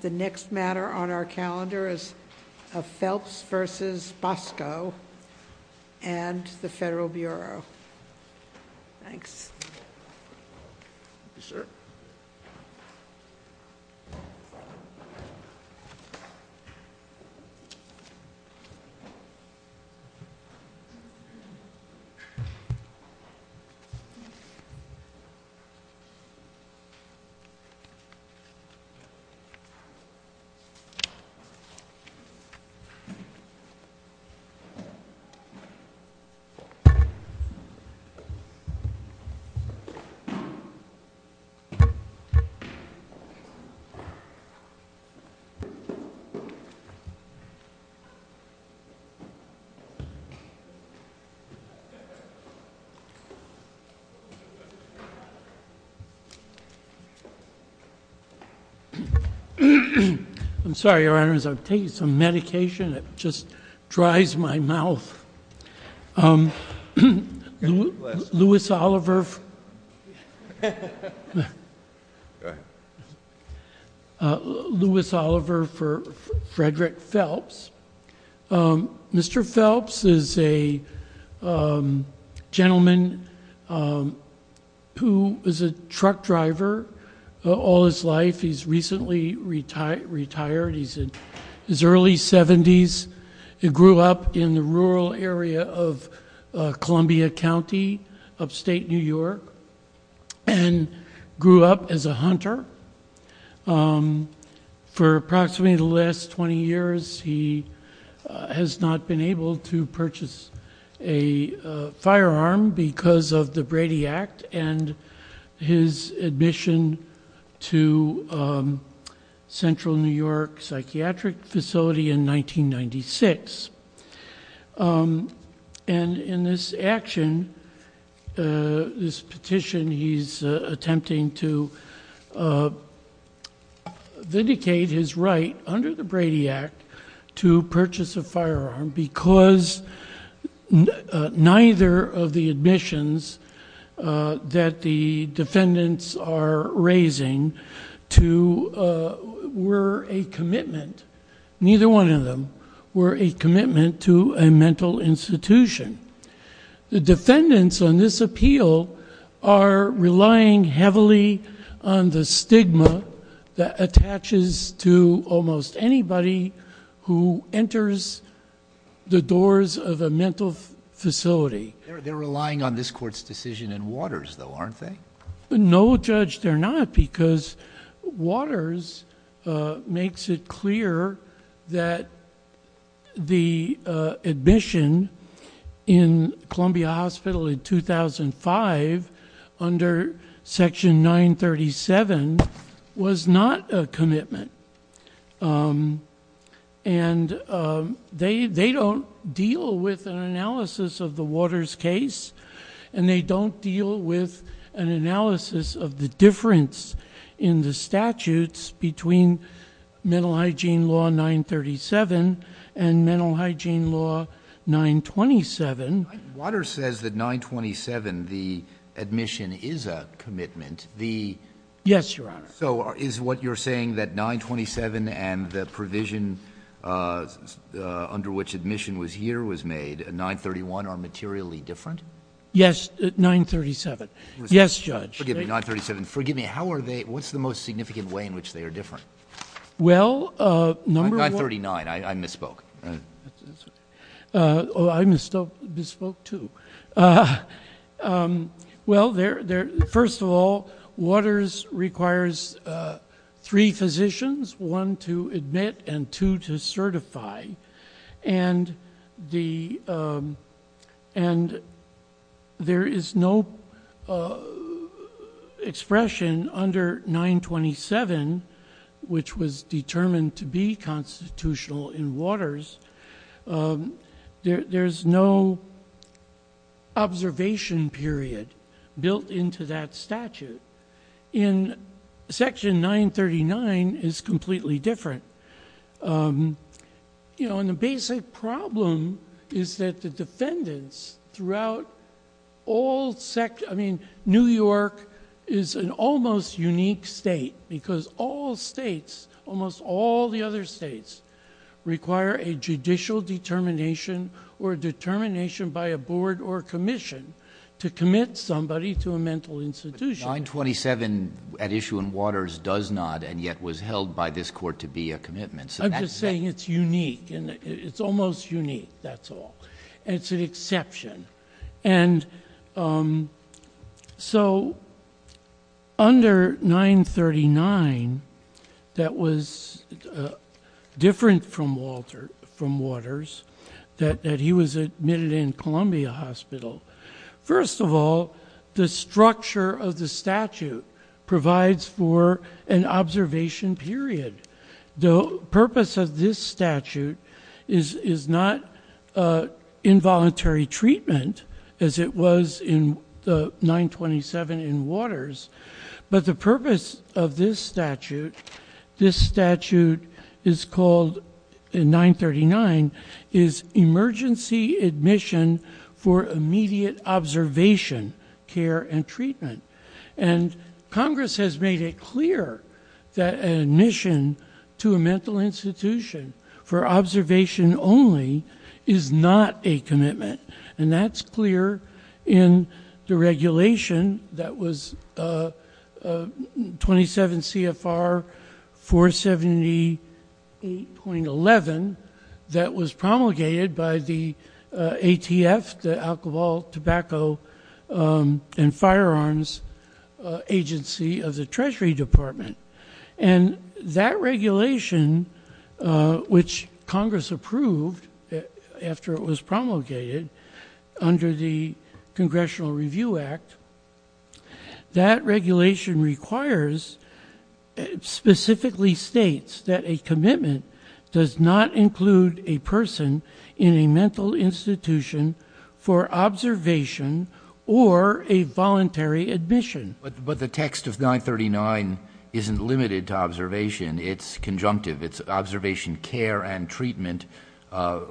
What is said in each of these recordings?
The next matter on our calendar is Phelps v. Bosco and the Federal Bureau. Thanks. I'm sorry, Your Honor, as I've taken some medication, it just dries my mouth. Louis Oliver for Frederick Phelps. Mr. Phelps is a gentleman who was a truck driver all his life. He's recently retired. He's in his early 70s. He grew up in the rural area of Columbia County, upstate New York, and grew up as a hunter. For approximately the last 20 years, he has not been able to purchase a firearm because of the Brady Act and his admission to Central New York Psychiatric Facility in 1996. And in this action, this petition, he's attempting to vindicate his right under the Brady Act to purchase a firearm because neither of the admissions that the defendants are raising were a commitment. Neither one of them were a commitment to a mental institution. The defendants on this appeal are relying heavily on the stigma that attaches to almost anybody who enters the doors of a mental facility. They're relying on this court's decision in Waters, though, aren't they? No, Judge, they're not, because Waters makes it clear that the admission in Columbia Hospital in 2005 under Section 937 was not a commitment. And they don't deal with an analysis of the Waters case, and they don't deal with an analysis of the difference in the statutes between Mental Hygiene Law 937 and Mental Hygiene Law 927. Waters says that 927, the admission, is a commitment. Yes, Your Honor. So is what you're saying that 927 and the provision under which admission was here was made, 931, are materially different? Yes, 937. Yes, Judge. Forgive me, 937. Forgive me. What's the most significant way in which they are different? Well, number one— 939. I misspoke. I misspoke, too. Well, first of all, Waters requires three physicians, one to admit and two to certify. And there is no expression under 927, which was determined to be constitutional in Waters, there's no observation period built into that statute. In section 939, it's completely different. You know, and the basic problem is that the defendants throughout all—I mean, New York is an almost unique state because all states, almost all the other states, require a judicial determination or a determination by a board or commission to commit somebody to a mental institution. 927 at issue in Waters does not and yet was held by this court to be a commitment. I'm just saying it's unique. It's almost unique, that's all. It's an exception. And so under 939, that was different from Waters, that he was admitted in Columbia Hospital. First of all, the structure of the statute provides for an observation period. The purpose of this statute is not involuntary treatment, as it was in 927 in Waters, but the purpose of this statute, this statute is called in 939, is emergency admission for immediate observation, care, and treatment. And Congress has made it clear that an admission to a mental institution And that's clear in the regulation that was 27 CFR 478.11 that was promulgated by the ATF, the Alcohol, Tobacco, and Firearms Agency of the Treasury Department. And that regulation, which Congress approved after it was promulgated under the Congressional Review Act, that regulation requires, specifically states, that a commitment does not include a person in a mental institution for observation or a voluntary admission. But the text of 939 isn't limited to observation. It's conjunctive. It's observation, care, and treatment for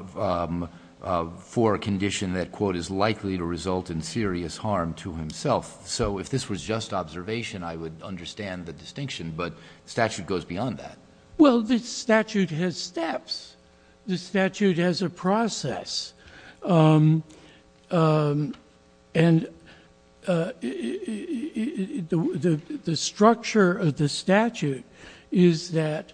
a condition that, quote, is likely to result in serious harm to himself. So if this was just observation, I would understand the distinction, but the statute goes beyond that. Well, the statute has steps. The statute has a process. And the structure of the statute is that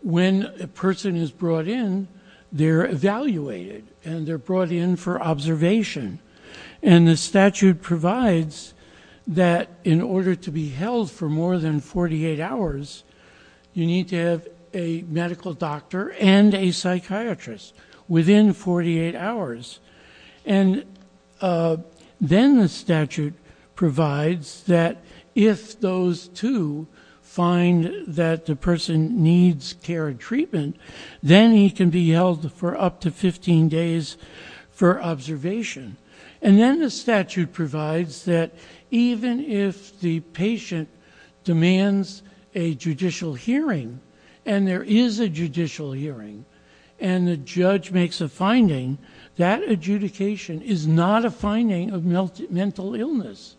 when a person is brought in, they're evaluated and they're brought in for observation. And the statute provides that in order to be held for more than 48 hours, you need to have a medical doctor and a psychiatrist within 48 hours. And then the statute provides that if those two find that the person needs care and treatment, then he can be held for up to 15 days for observation. And then the statute provides that even if the patient demands a judicial hearing, and there is a judicial hearing, and the judge makes a finding, that adjudication is not a finding of mental illness,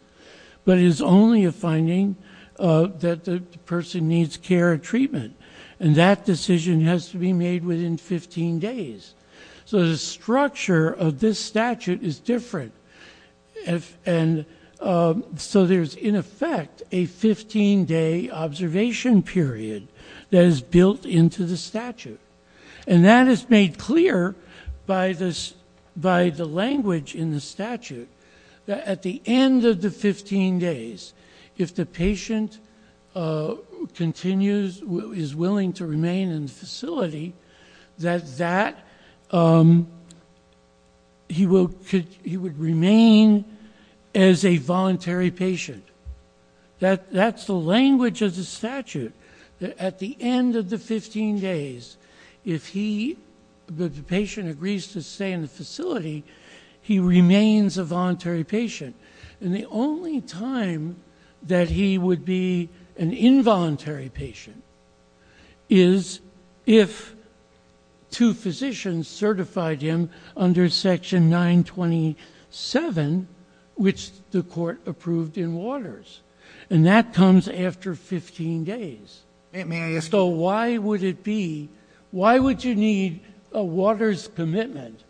but is only a finding that the person needs care and treatment. And that decision has to be made within 15 days. So the structure of this statute is different. And so there's, in effect, a 15-day observation period that is built into the statute. And that is made clear by the language in the statute that at the end of the 15 days, if the patient continues, is willing to remain in the facility, that he would remain as a voluntary patient. That's the language of the statute. At the end of the 15 days, if the patient agrees to stay in the facility, he remains a voluntary patient. And the only time that he would be an involuntary patient is if two physicians certified him under Section 927, which the court approved in Waters. And that comes after 15 days. So why would it be, why would you need a Waters commitment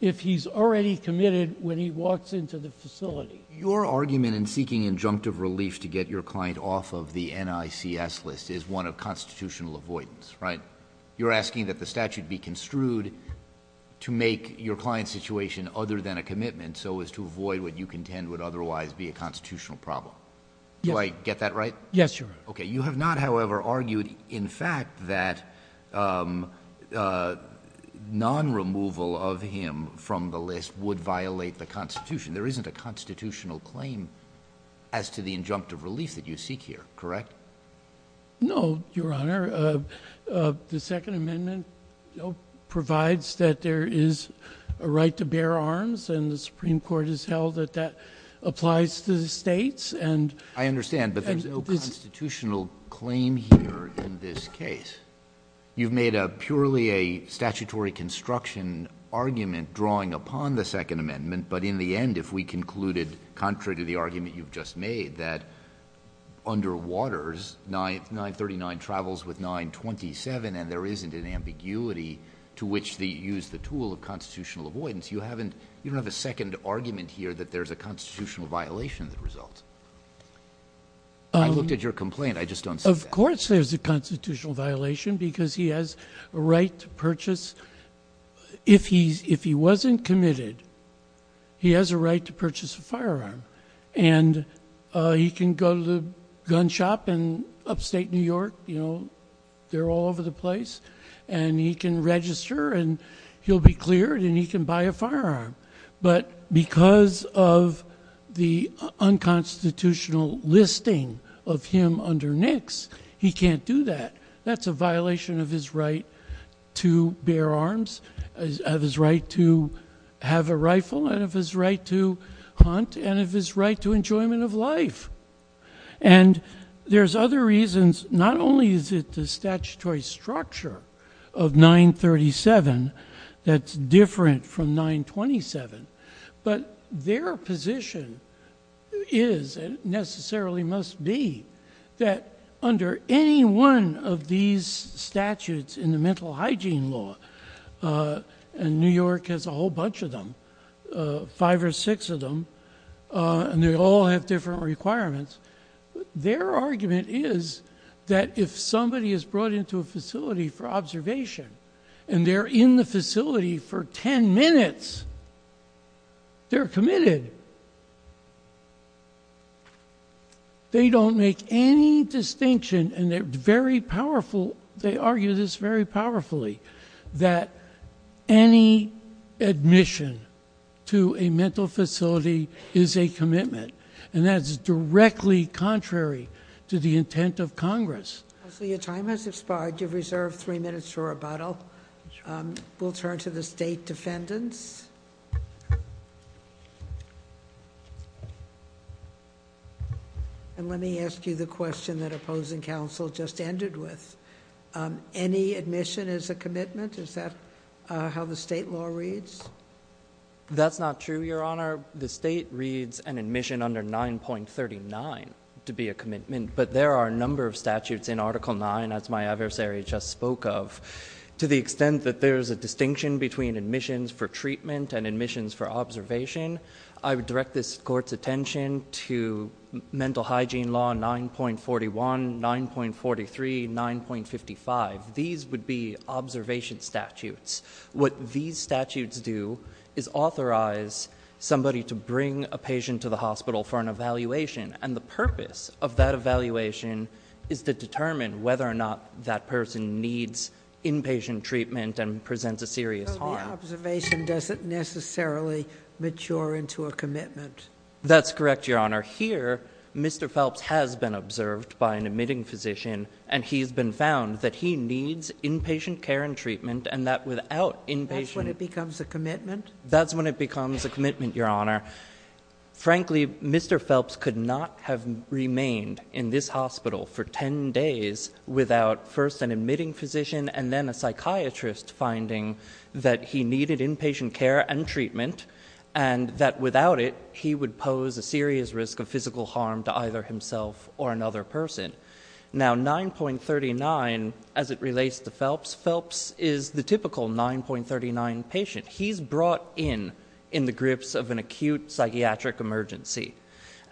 if he's already committed when he walks into the facility? Your argument in seeking injunctive relief to get your client off of the NICS list is one of constitutional avoidance, right? You're asking that the statute be construed to make your client's situation other than a commitment so as to avoid what you contend would otherwise be a constitutional problem. Do I get that right? Yes, Your Honor. Okay. You have not, however, argued, in fact, that non-removal of him from the list would violate the Constitution. There isn't a constitutional claim as to the injunctive relief that you seek here, correct? No, Your Honor. The Second Amendment provides that there is a right to bear arms, and the Supreme Court has held that that applies to the states. I understand, but there's no constitutional claim here in this case. You've made purely a statutory construction argument drawing upon the Second Amendment, but in the end, if we concluded, contrary to the argument you've just made, that under Waters, 939 travels with 927 and there isn't an ambiguity to which to use the tool of constitutional avoidance, you don't have a second argument here that there's a constitutional violation that results. I looked at your complaint. I just don't see that. Of course there's a constitutional violation because he has a right to purchase. If he wasn't committed, he has a right to purchase a firearm, and he can go to the gun shop in upstate New York. They're all over the place, and he can register, and he'll be cleared, and he can buy a firearm. But because of the unconstitutional listing of him under NICS, he can't do that. That's a violation of his right to bear arms, of his right to have a rifle, and of his right to hunt, and of his right to enjoyment of life. And there's other reasons. Not only is it the statutory structure of 937 that's different from 927, but their position is, and necessarily must be, that under any one of these statutes in the mental hygiene law, and New York has a whole bunch of them, five or six of them, and they all have different requirements, their argument is that if somebody is brought into a facility for observation, and they're in the facility for ten minutes, they're committed. They don't make any distinction, and they argue this very powerfully, that any admission to a mental facility is a commitment, and that is directly contrary to the intent of Congress. Counsel, your time has expired. You have reserved three minutes for rebuttal. We'll turn to the state defendants. And let me ask you the question that opposing counsel just ended with. Any admission is a commitment? Is that how the state law reads? That's not true, Your Honor. The state reads an admission under 9.39 to be a commitment, but there are a number of statutes in Article 9, as my adversary just spoke of. To the extent that there's a distinction between admissions for treatment and admissions for observation, I would direct this Court's attention to mental hygiene law 9.41, 9.43, 9.55. These would be observation statutes. What these statutes do is authorize somebody to bring a patient to the hospital for an evaluation, and the purpose of that evaluation is to determine whether or not that person needs inpatient treatment and presents a serious harm. So the observation doesn't necessarily mature into a commitment. That's correct, Your Honor. Here, Mr. Phelps has been observed by an admitting physician, and he's been found that he needs inpatient care and treatment, and that without inpatient... That's when it becomes a commitment? That's when it becomes a commitment, Your Honor. Frankly, Mr. Phelps could not have remained in this hospital for 10 days without first an admitting physician and then a psychiatrist finding that he needed inpatient care and treatment, and that without it he would pose a serious risk of physical harm to either himself or another person. Now 9.39, as it relates to Phelps, Phelps is the typical 9.39 patient. He's brought in in the grips of an acute psychiatric emergency,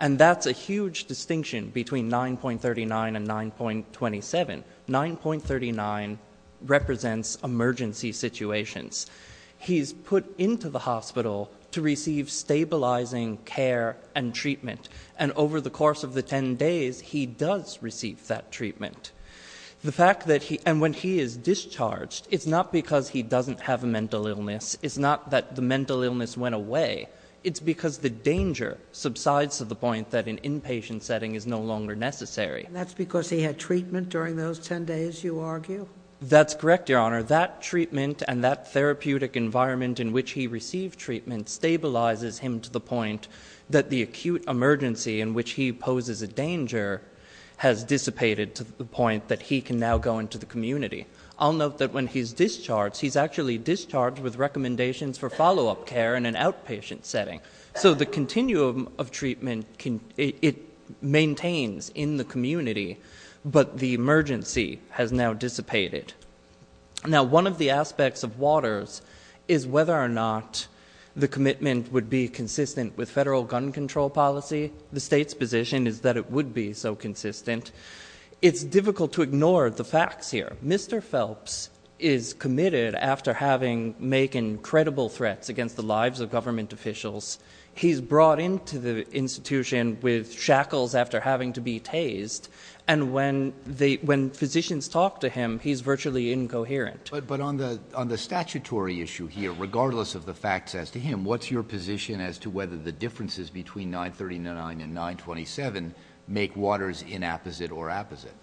and that's a huge distinction between 9.39 and 9.27. 9.39 represents emergency situations. He's put into the hospital to receive stabilizing care and treatment, and over the course of the 10 days he does receive that treatment. The fact that he... And when he is discharged, it's not because he doesn't have a mental illness. It's not that the mental illness went away. It's because the danger subsides to the point that an inpatient setting is no longer necessary. That's because he had treatment during those 10 days, you argue? That's correct, Your Honor. That treatment and that therapeutic environment in which he received treatment stabilizes him to the point that the acute emergency in which he poses a danger has dissipated to the point that he can now go into the community. I'll note that when he's discharged, he's actually discharged with recommendations for follow-up care in an outpatient setting. So the continuum of treatment, it maintains in the community, but the emergency has now dissipated. Now, one of the aspects of Waters is whether or not the commitment would be consistent with federal gun control policy. The state's position is that it would be so consistent. It's difficult to ignore the facts here. Mr. Phelps is committed after making credible threats against the lives of government officials. He's brought into the institution with shackles after having to be tased, and when physicians talk to him, he's virtually incoherent. But on the statutory issue here, regardless of the facts as to him, what's your position as to whether the differences between 939 and 927 make Waters inapposite or apposite?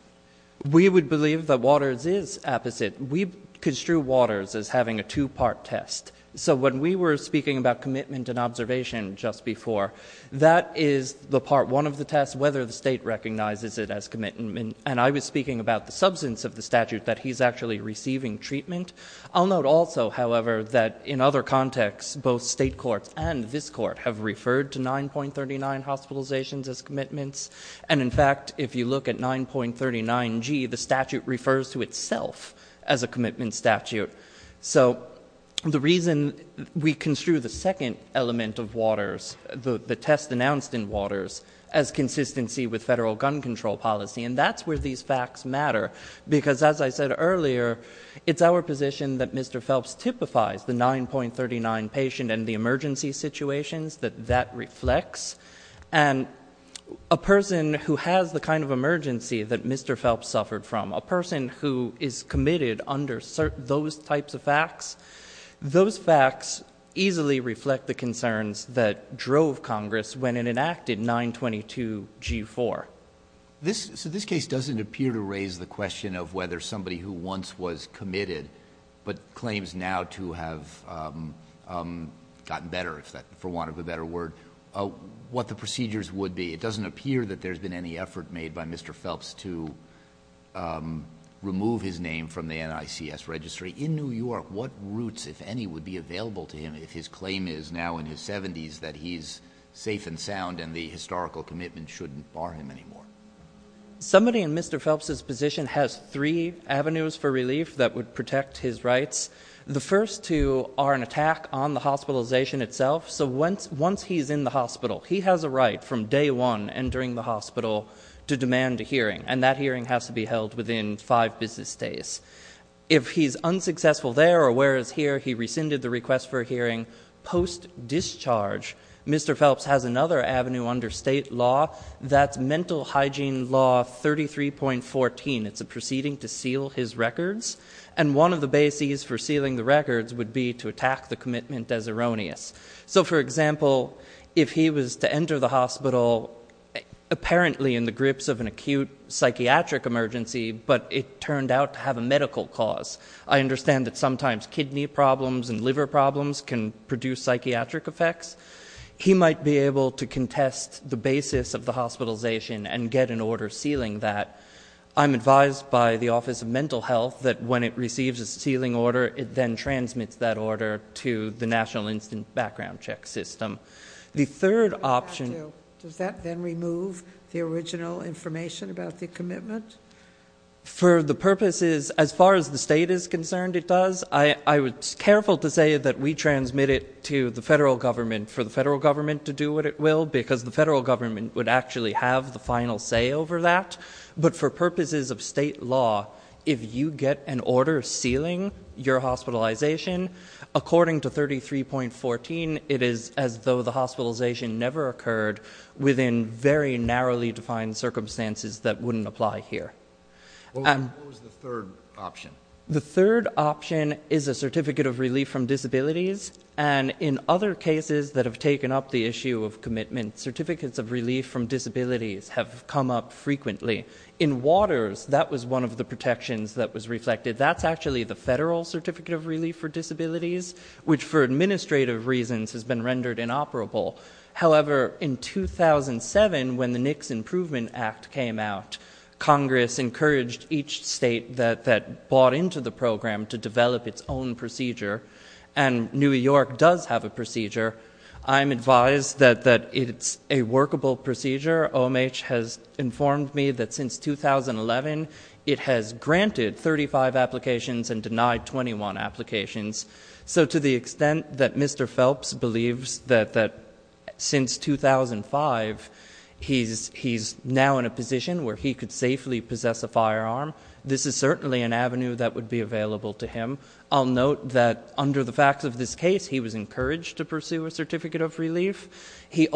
We would believe that Waters is apposite. We construe Waters as having a two-part test. So when we were speaking about commitment and observation just before, that is the part one of the test, whether the state recognizes it as commitment, and I was speaking about the substance of the statute, that he's actually receiving treatment. I'll note also, however, that in other contexts, both state courts and this court have referred to 9.39 hospitalizations as commitments, and in fact, if you look at 9.39G, the statute refers to itself as a commitment statute. So the reason we construe the second element of Waters, the test announced in Waters, as consistency with federal gun control policy, and that's where these facts matter, because as I said earlier, it's our position that Mr. Phelps typifies the 9.39 patient and the emergency situations that that reflects, and a person who has the kind of emergency that Mr. Phelps suffered from, a person who is committed under those types of facts, those facts easily reflect the concerns that drove Congress when it enacted 9.22G.4. So this case doesn't appear to raise the question of whether somebody who once was committed but claims now to have gotten better, for want of a better word, what the procedures would be. It doesn't appear that there's been any effort made by Mr. Phelps to remove his name from the NICS registry. In New York, what routes, if any, would be available to him if his claim is now in his 70s that he's safe and sound and the historical commitment shouldn't bar him anymore? Somebody in Mr. Phelps's position has three avenues for relief that would protect his rights. The first two are an attack on the hospitalization itself. So once he's in the hospital, he has a right from day one entering the hospital to demand a hearing, and that hearing has to be held within five business days. If he's unsuccessful there or where he is here, he rescinded the request for a hearing. Post-discharge, Mr. Phelps has another avenue under state law. That's Mental Hygiene Law 33.14. It's a proceeding to seal his records, and one of the bases for sealing the records would be to attack the commitment as erroneous. So, for example, if he was to enter the hospital apparently in the grips of an acute psychiatric emergency, but it turned out to have a medical cause. I understand that sometimes kidney problems and liver problems can produce psychiatric effects. He might be able to contest the basis of the hospitalization and get an order sealing that. I'm advised by the Office of Mental Health that when it receives a sealing order, it then transmits that order to the National Instant Background Check System. The third option... Does that then remove the original information about the commitment? For the purposes, as far as the state is concerned, it does. I was careful to say that we transmit it to the federal government for the federal government to do what it will because the federal government would actually have the final say over that. But for purposes of state law, if you get an order sealing your hospitalization, according to 33.14, it is as though the hospitalization never occurred within very narrowly defined circumstances that wouldn't apply here. What was the third option? The third option is a Certificate of Relief from Disabilities. And in other cases that have taken up the issue of commitment, Certificates of Relief from Disabilities have come up frequently. In Waters, that was one of the protections that was reflected. That's actually the Federal Certificate of Relief for Disabilities, which for administrative reasons has been rendered inoperable. However, in 2007, when the NICS Improvement Act came out, Congress encouraged each state that bought into the program to develop its own procedure, and New York does have a procedure. I'm advised that it's a workable procedure. Mr. Omich has informed me that since 2011, it has granted 35 applications and denied 21 applications. So to the extent that Mr. Phelps believes that since 2005, he's now in a position where he could safely possess a firearm, this is certainly an avenue that would be available to him. I'll note that under the facts of this case, he was encouraged to pursue a Certificate of Relief. He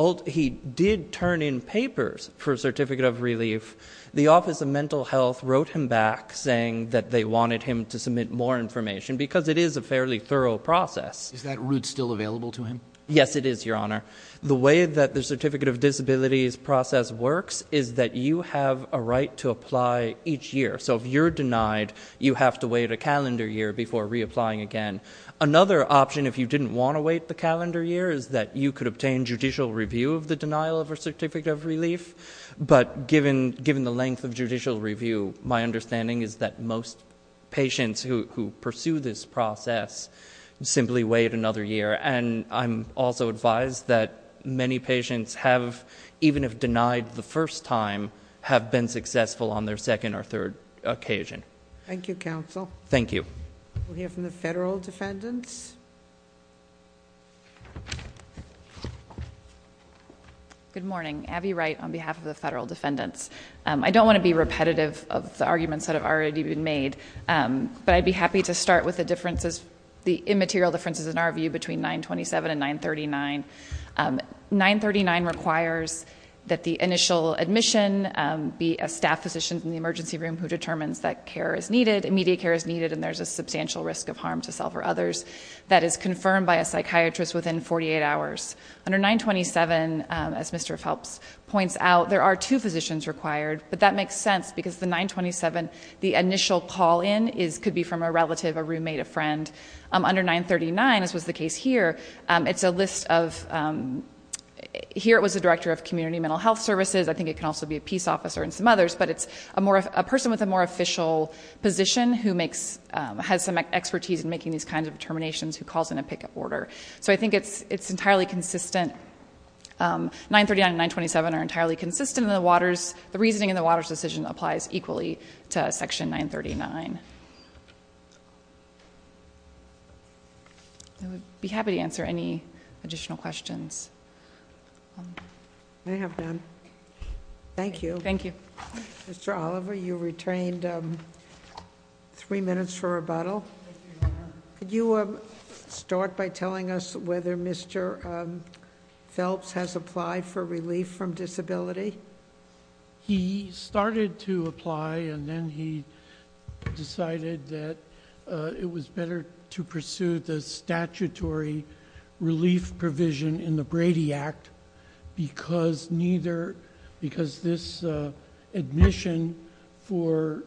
did turn in papers for a Certificate of Relief. The Office of Mental Health wrote him back, saying that they wanted him to submit more information, because it is a fairly thorough process. Is that route still available to him? Yes, it is, Your Honor. The way that the Certificate of Disabilities process works is that you have a right to apply each year. So if you're denied, you have to wait a calendar year before reapplying again. Another option, if you didn't want to wait the calendar year, is that you could obtain judicial review of the denial of a Certificate of Relief. But given the length of judicial review, my understanding is that most patients who pursue this process simply wait another year. And I'm also advised that many patients have, even if denied the first time, have been successful on their second or third occasion. Thank you, counsel. Thank you. We'll hear from the federal defendants. Good morning. Abby Wright on behalf of the federal defendants. I don't want to be repetitive of the arguments that have already been made, but I'd be happy to start with the differences, the immaterial differences in our view between 927 and 939. 939 requires that the initial admission be a staff physician in the emergency room who determines that care is needed, immediate care is needed, and there's a substantial risk of harm to self or others. That is confirmed by a psychiatrist within 48 hours. Under 927, as Mr. Phelps points out, there are two physicians required, but that makes sense because the 927, the initial call-in could be from a relative, a roommate, a friend. Under 939, as was the case here, it's a list of – here it was a director of community mental health services. I think it can also be a peace officer and some others. But it's a person with a more official position who has some expertise in making these kinds of determinations who calls in a pick-up order. So I think it's entirely consistent. 939 and 927 are entirely consistent in the waters. The reasoning in the waters decision applies equally to Section 939. I would be happy to answer any additional questions. I have none. Thank you. Thank you. Mr. Oliver, you retained three minutes for rebuttal. Could you start by telling us whether Mr. Phelps has applied for relief from disability? He started to apply, and then he decided that it was better to pursue the statutory relief provision in the Brady Act because this admission for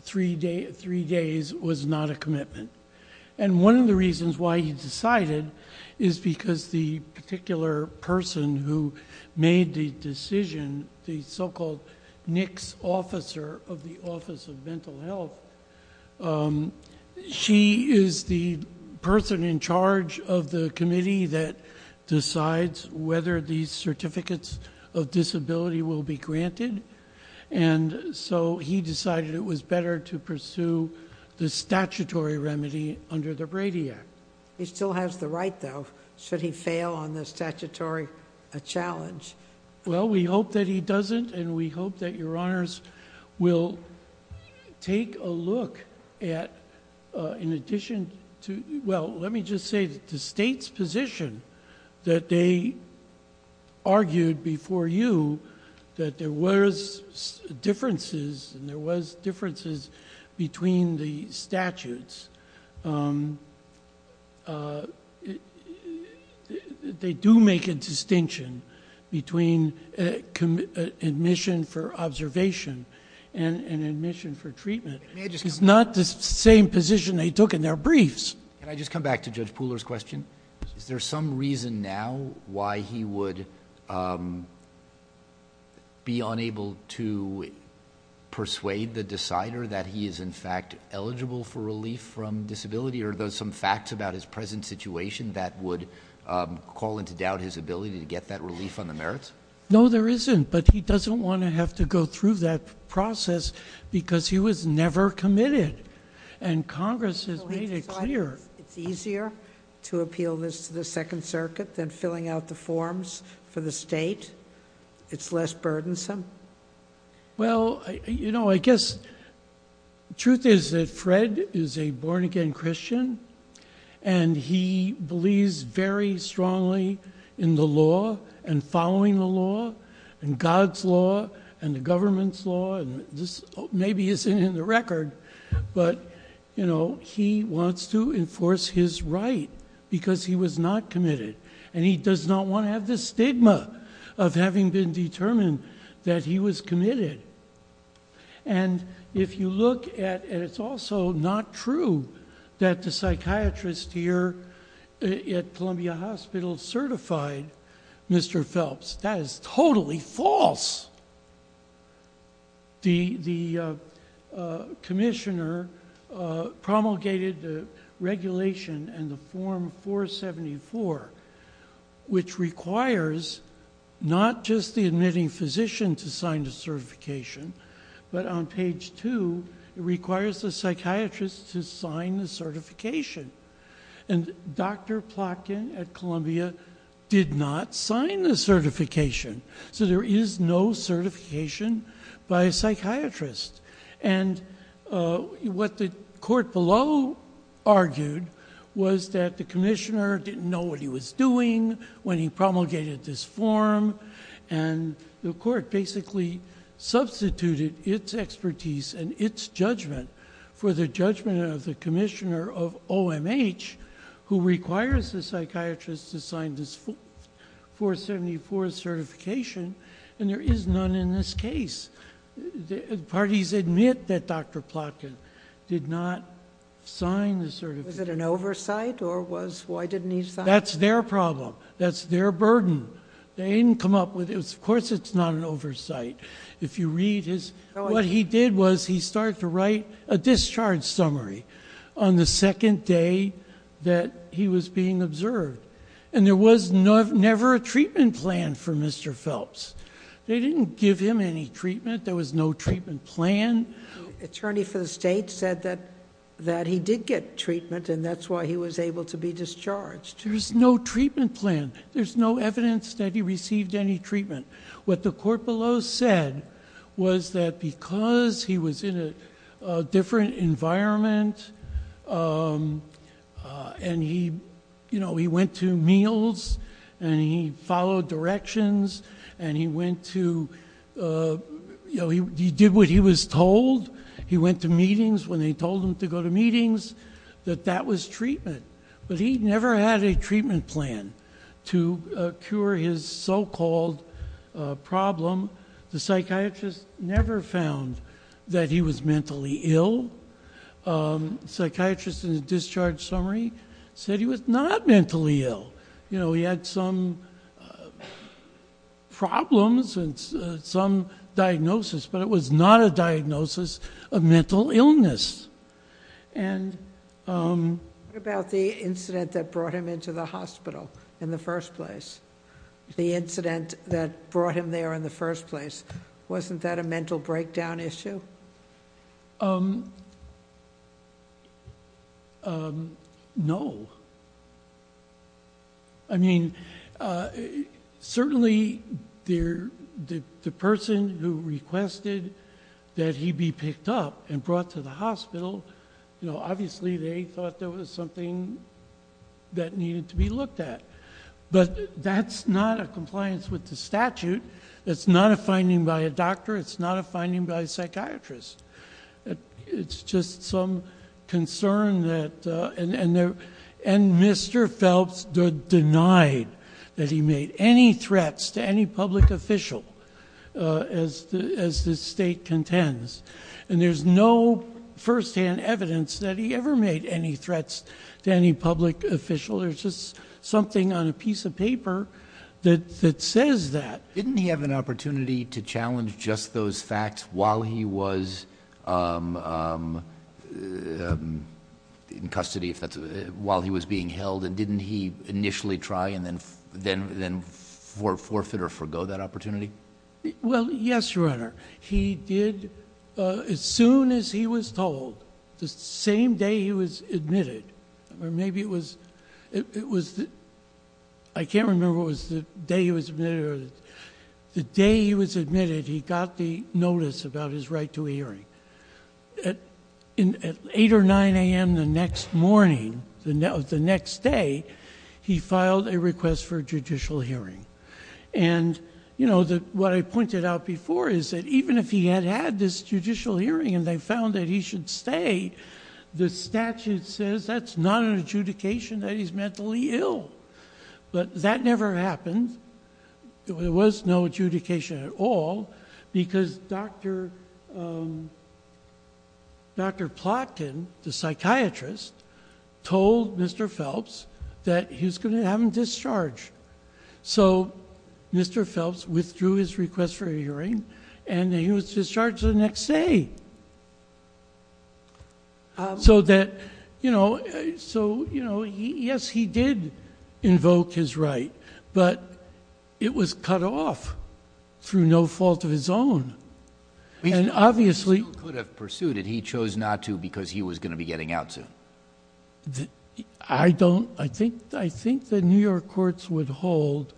three days was not a commitment. One of the reasons why he decided is because the particular person who made the decision, the so-called NICS officer of the Office of Mental Health, she is the person in charge of the committee that decides whether these certificates of disability will be granted. And so he decided it was better to pursue the statutory remedy under the Brady Act. He still has the right, though. Should he fail on the statutory challenge? Well, we hope that he doesn't, and we hope that Your Honors will take a look at, in addition to, well, let me just say that the state's position that they argued before you that there was differences, and there was differences between the statutes, they do make a distinction between admission for observation and admission for treatment. It's not the same position they took in their briefs. Can I just come back to Judge Pooler's question? Is there some reason now why he would be unable to persuade the decider that he is, in fact, eligible for relief from disability? Are there some facts about his present situation that would call into doubt his ability to get that relief on the merits? No, there isn't, but he doesn't want to have to go through that process because he was never committed, and Congress has made it clear. It's easier to appeal this to the Second Circuit than filling out the forms for the state? It's less burdensome? Well, you know, I guess the truth is that Fred is a born-again Christian, and he believes very strongly in the law and following the law and God's law and the government's law, and this maybe isn't in the record, but he wants to enforce his right because he was not committed, and he does not want to have the stigma of having been determined that he was committed. And if you look at it, it's also not true that the psychiatrist here at Columbia Hospital certified Mr. Phelps. That is totally false. The commissioner promulgated the regulation and the Form 474, which requires not just the admitting physician to sign the certification, but on page 2, it requires the psychiatrist to sign the certification, and Dr. Plotkin at Columbia did not sign the certification, so there is no certification by a psychiatrist. And what the court below argued was that the commissioner didn't know what he was doing when he promulgated this form, and the court basically substituted its expertise and its judgment for the judgment of the commissioner of OMH, who requires the psychiatrist to sign this 474 certification, and there is none in this case. Parties admit that Dr. Plotkin did not sign the certification. Was it an oversight, or why didn't he sign it? That's their problem. That's their burden. They didn't come up with it. Of course it's not an oversight. What he did was he started to write a discharge summary on the second day that he was being observed, and there was never a treatment plan for Mr. Phelps. They didn't give him any treatment. There was no treatment plan. The attorney for the state said that he did get treatment, and that's why he was able to be discharged. There's no treatment plan. There's no evidence that he received any treatment. What the court below said was that because he was in a different environment and he went to meals and he followed directions and he did what he was told, he went to meetings when they told him to go to meetings, that that was treatment. But he never had a treatment plan to cure his so-called problem. The psychiatrist never found that he was mentally ill. The psychiatrist in the discharge summary said he was not mentally ill. You know, he had some problems and some diagnosis, but it was not a diagnosis of mental illness. And... What about the incident that brought him into the hospital in the first place? The incident that brought him there in the first place, wasn't that a mental breakdown issue? No. I mean, certainly the person who requested that he be picked up and brought to the hospital, obviously they thought there was something that needed to be looked at. But that's not a compliance with the statute. It's not a finding by a doctor. It's not a finding by a psychiatrist. It's just some concern that... And Mr. Phelps denied that he made any threats to any public official, as the state contends. And there's no firsthand evidence that he ever made any threats to any public official. There's just something on a piece of paper that says that. Didn't he have an opportunity to challenge just those facts while he was in custody, while he was being held? And didn't he initially try and then forfeit or forgo that opportunity? Well, yes, Your Honor. He did, as soon as he was told, the same day he was admitted, or maybe it was the day he was admitted, he got the notice about his right to a hearing. At 8 or 9 a.m. the next morning, the next day, he filed a request for a judicial hearing. And what I pointed out before is that even if he had had this judicial hearing and they found that he should stay, the statute says that's not an adjudication that he's mentally ill. But that never happened. There was no adjudication at all because Dr. Plotkin, the psychiatrist, told Mr. Phelps that he was going to have him discharged. So Mr. Phelps withdrew his request for a hearing and he was discharged the next day. So yes, he did invoke his right, but it was cut off through no fault of his own. He still could have pursued it. He chose not to because he was going to be getting out soon. I think the New York courts would hold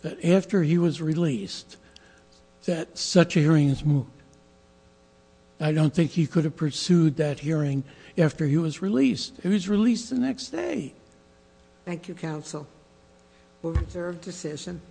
that after he was released that such a hearing is moot. I don't think he could have pursued that hearing after he was released. He was released the next day. Thank you, counsel. We'll reserve decision.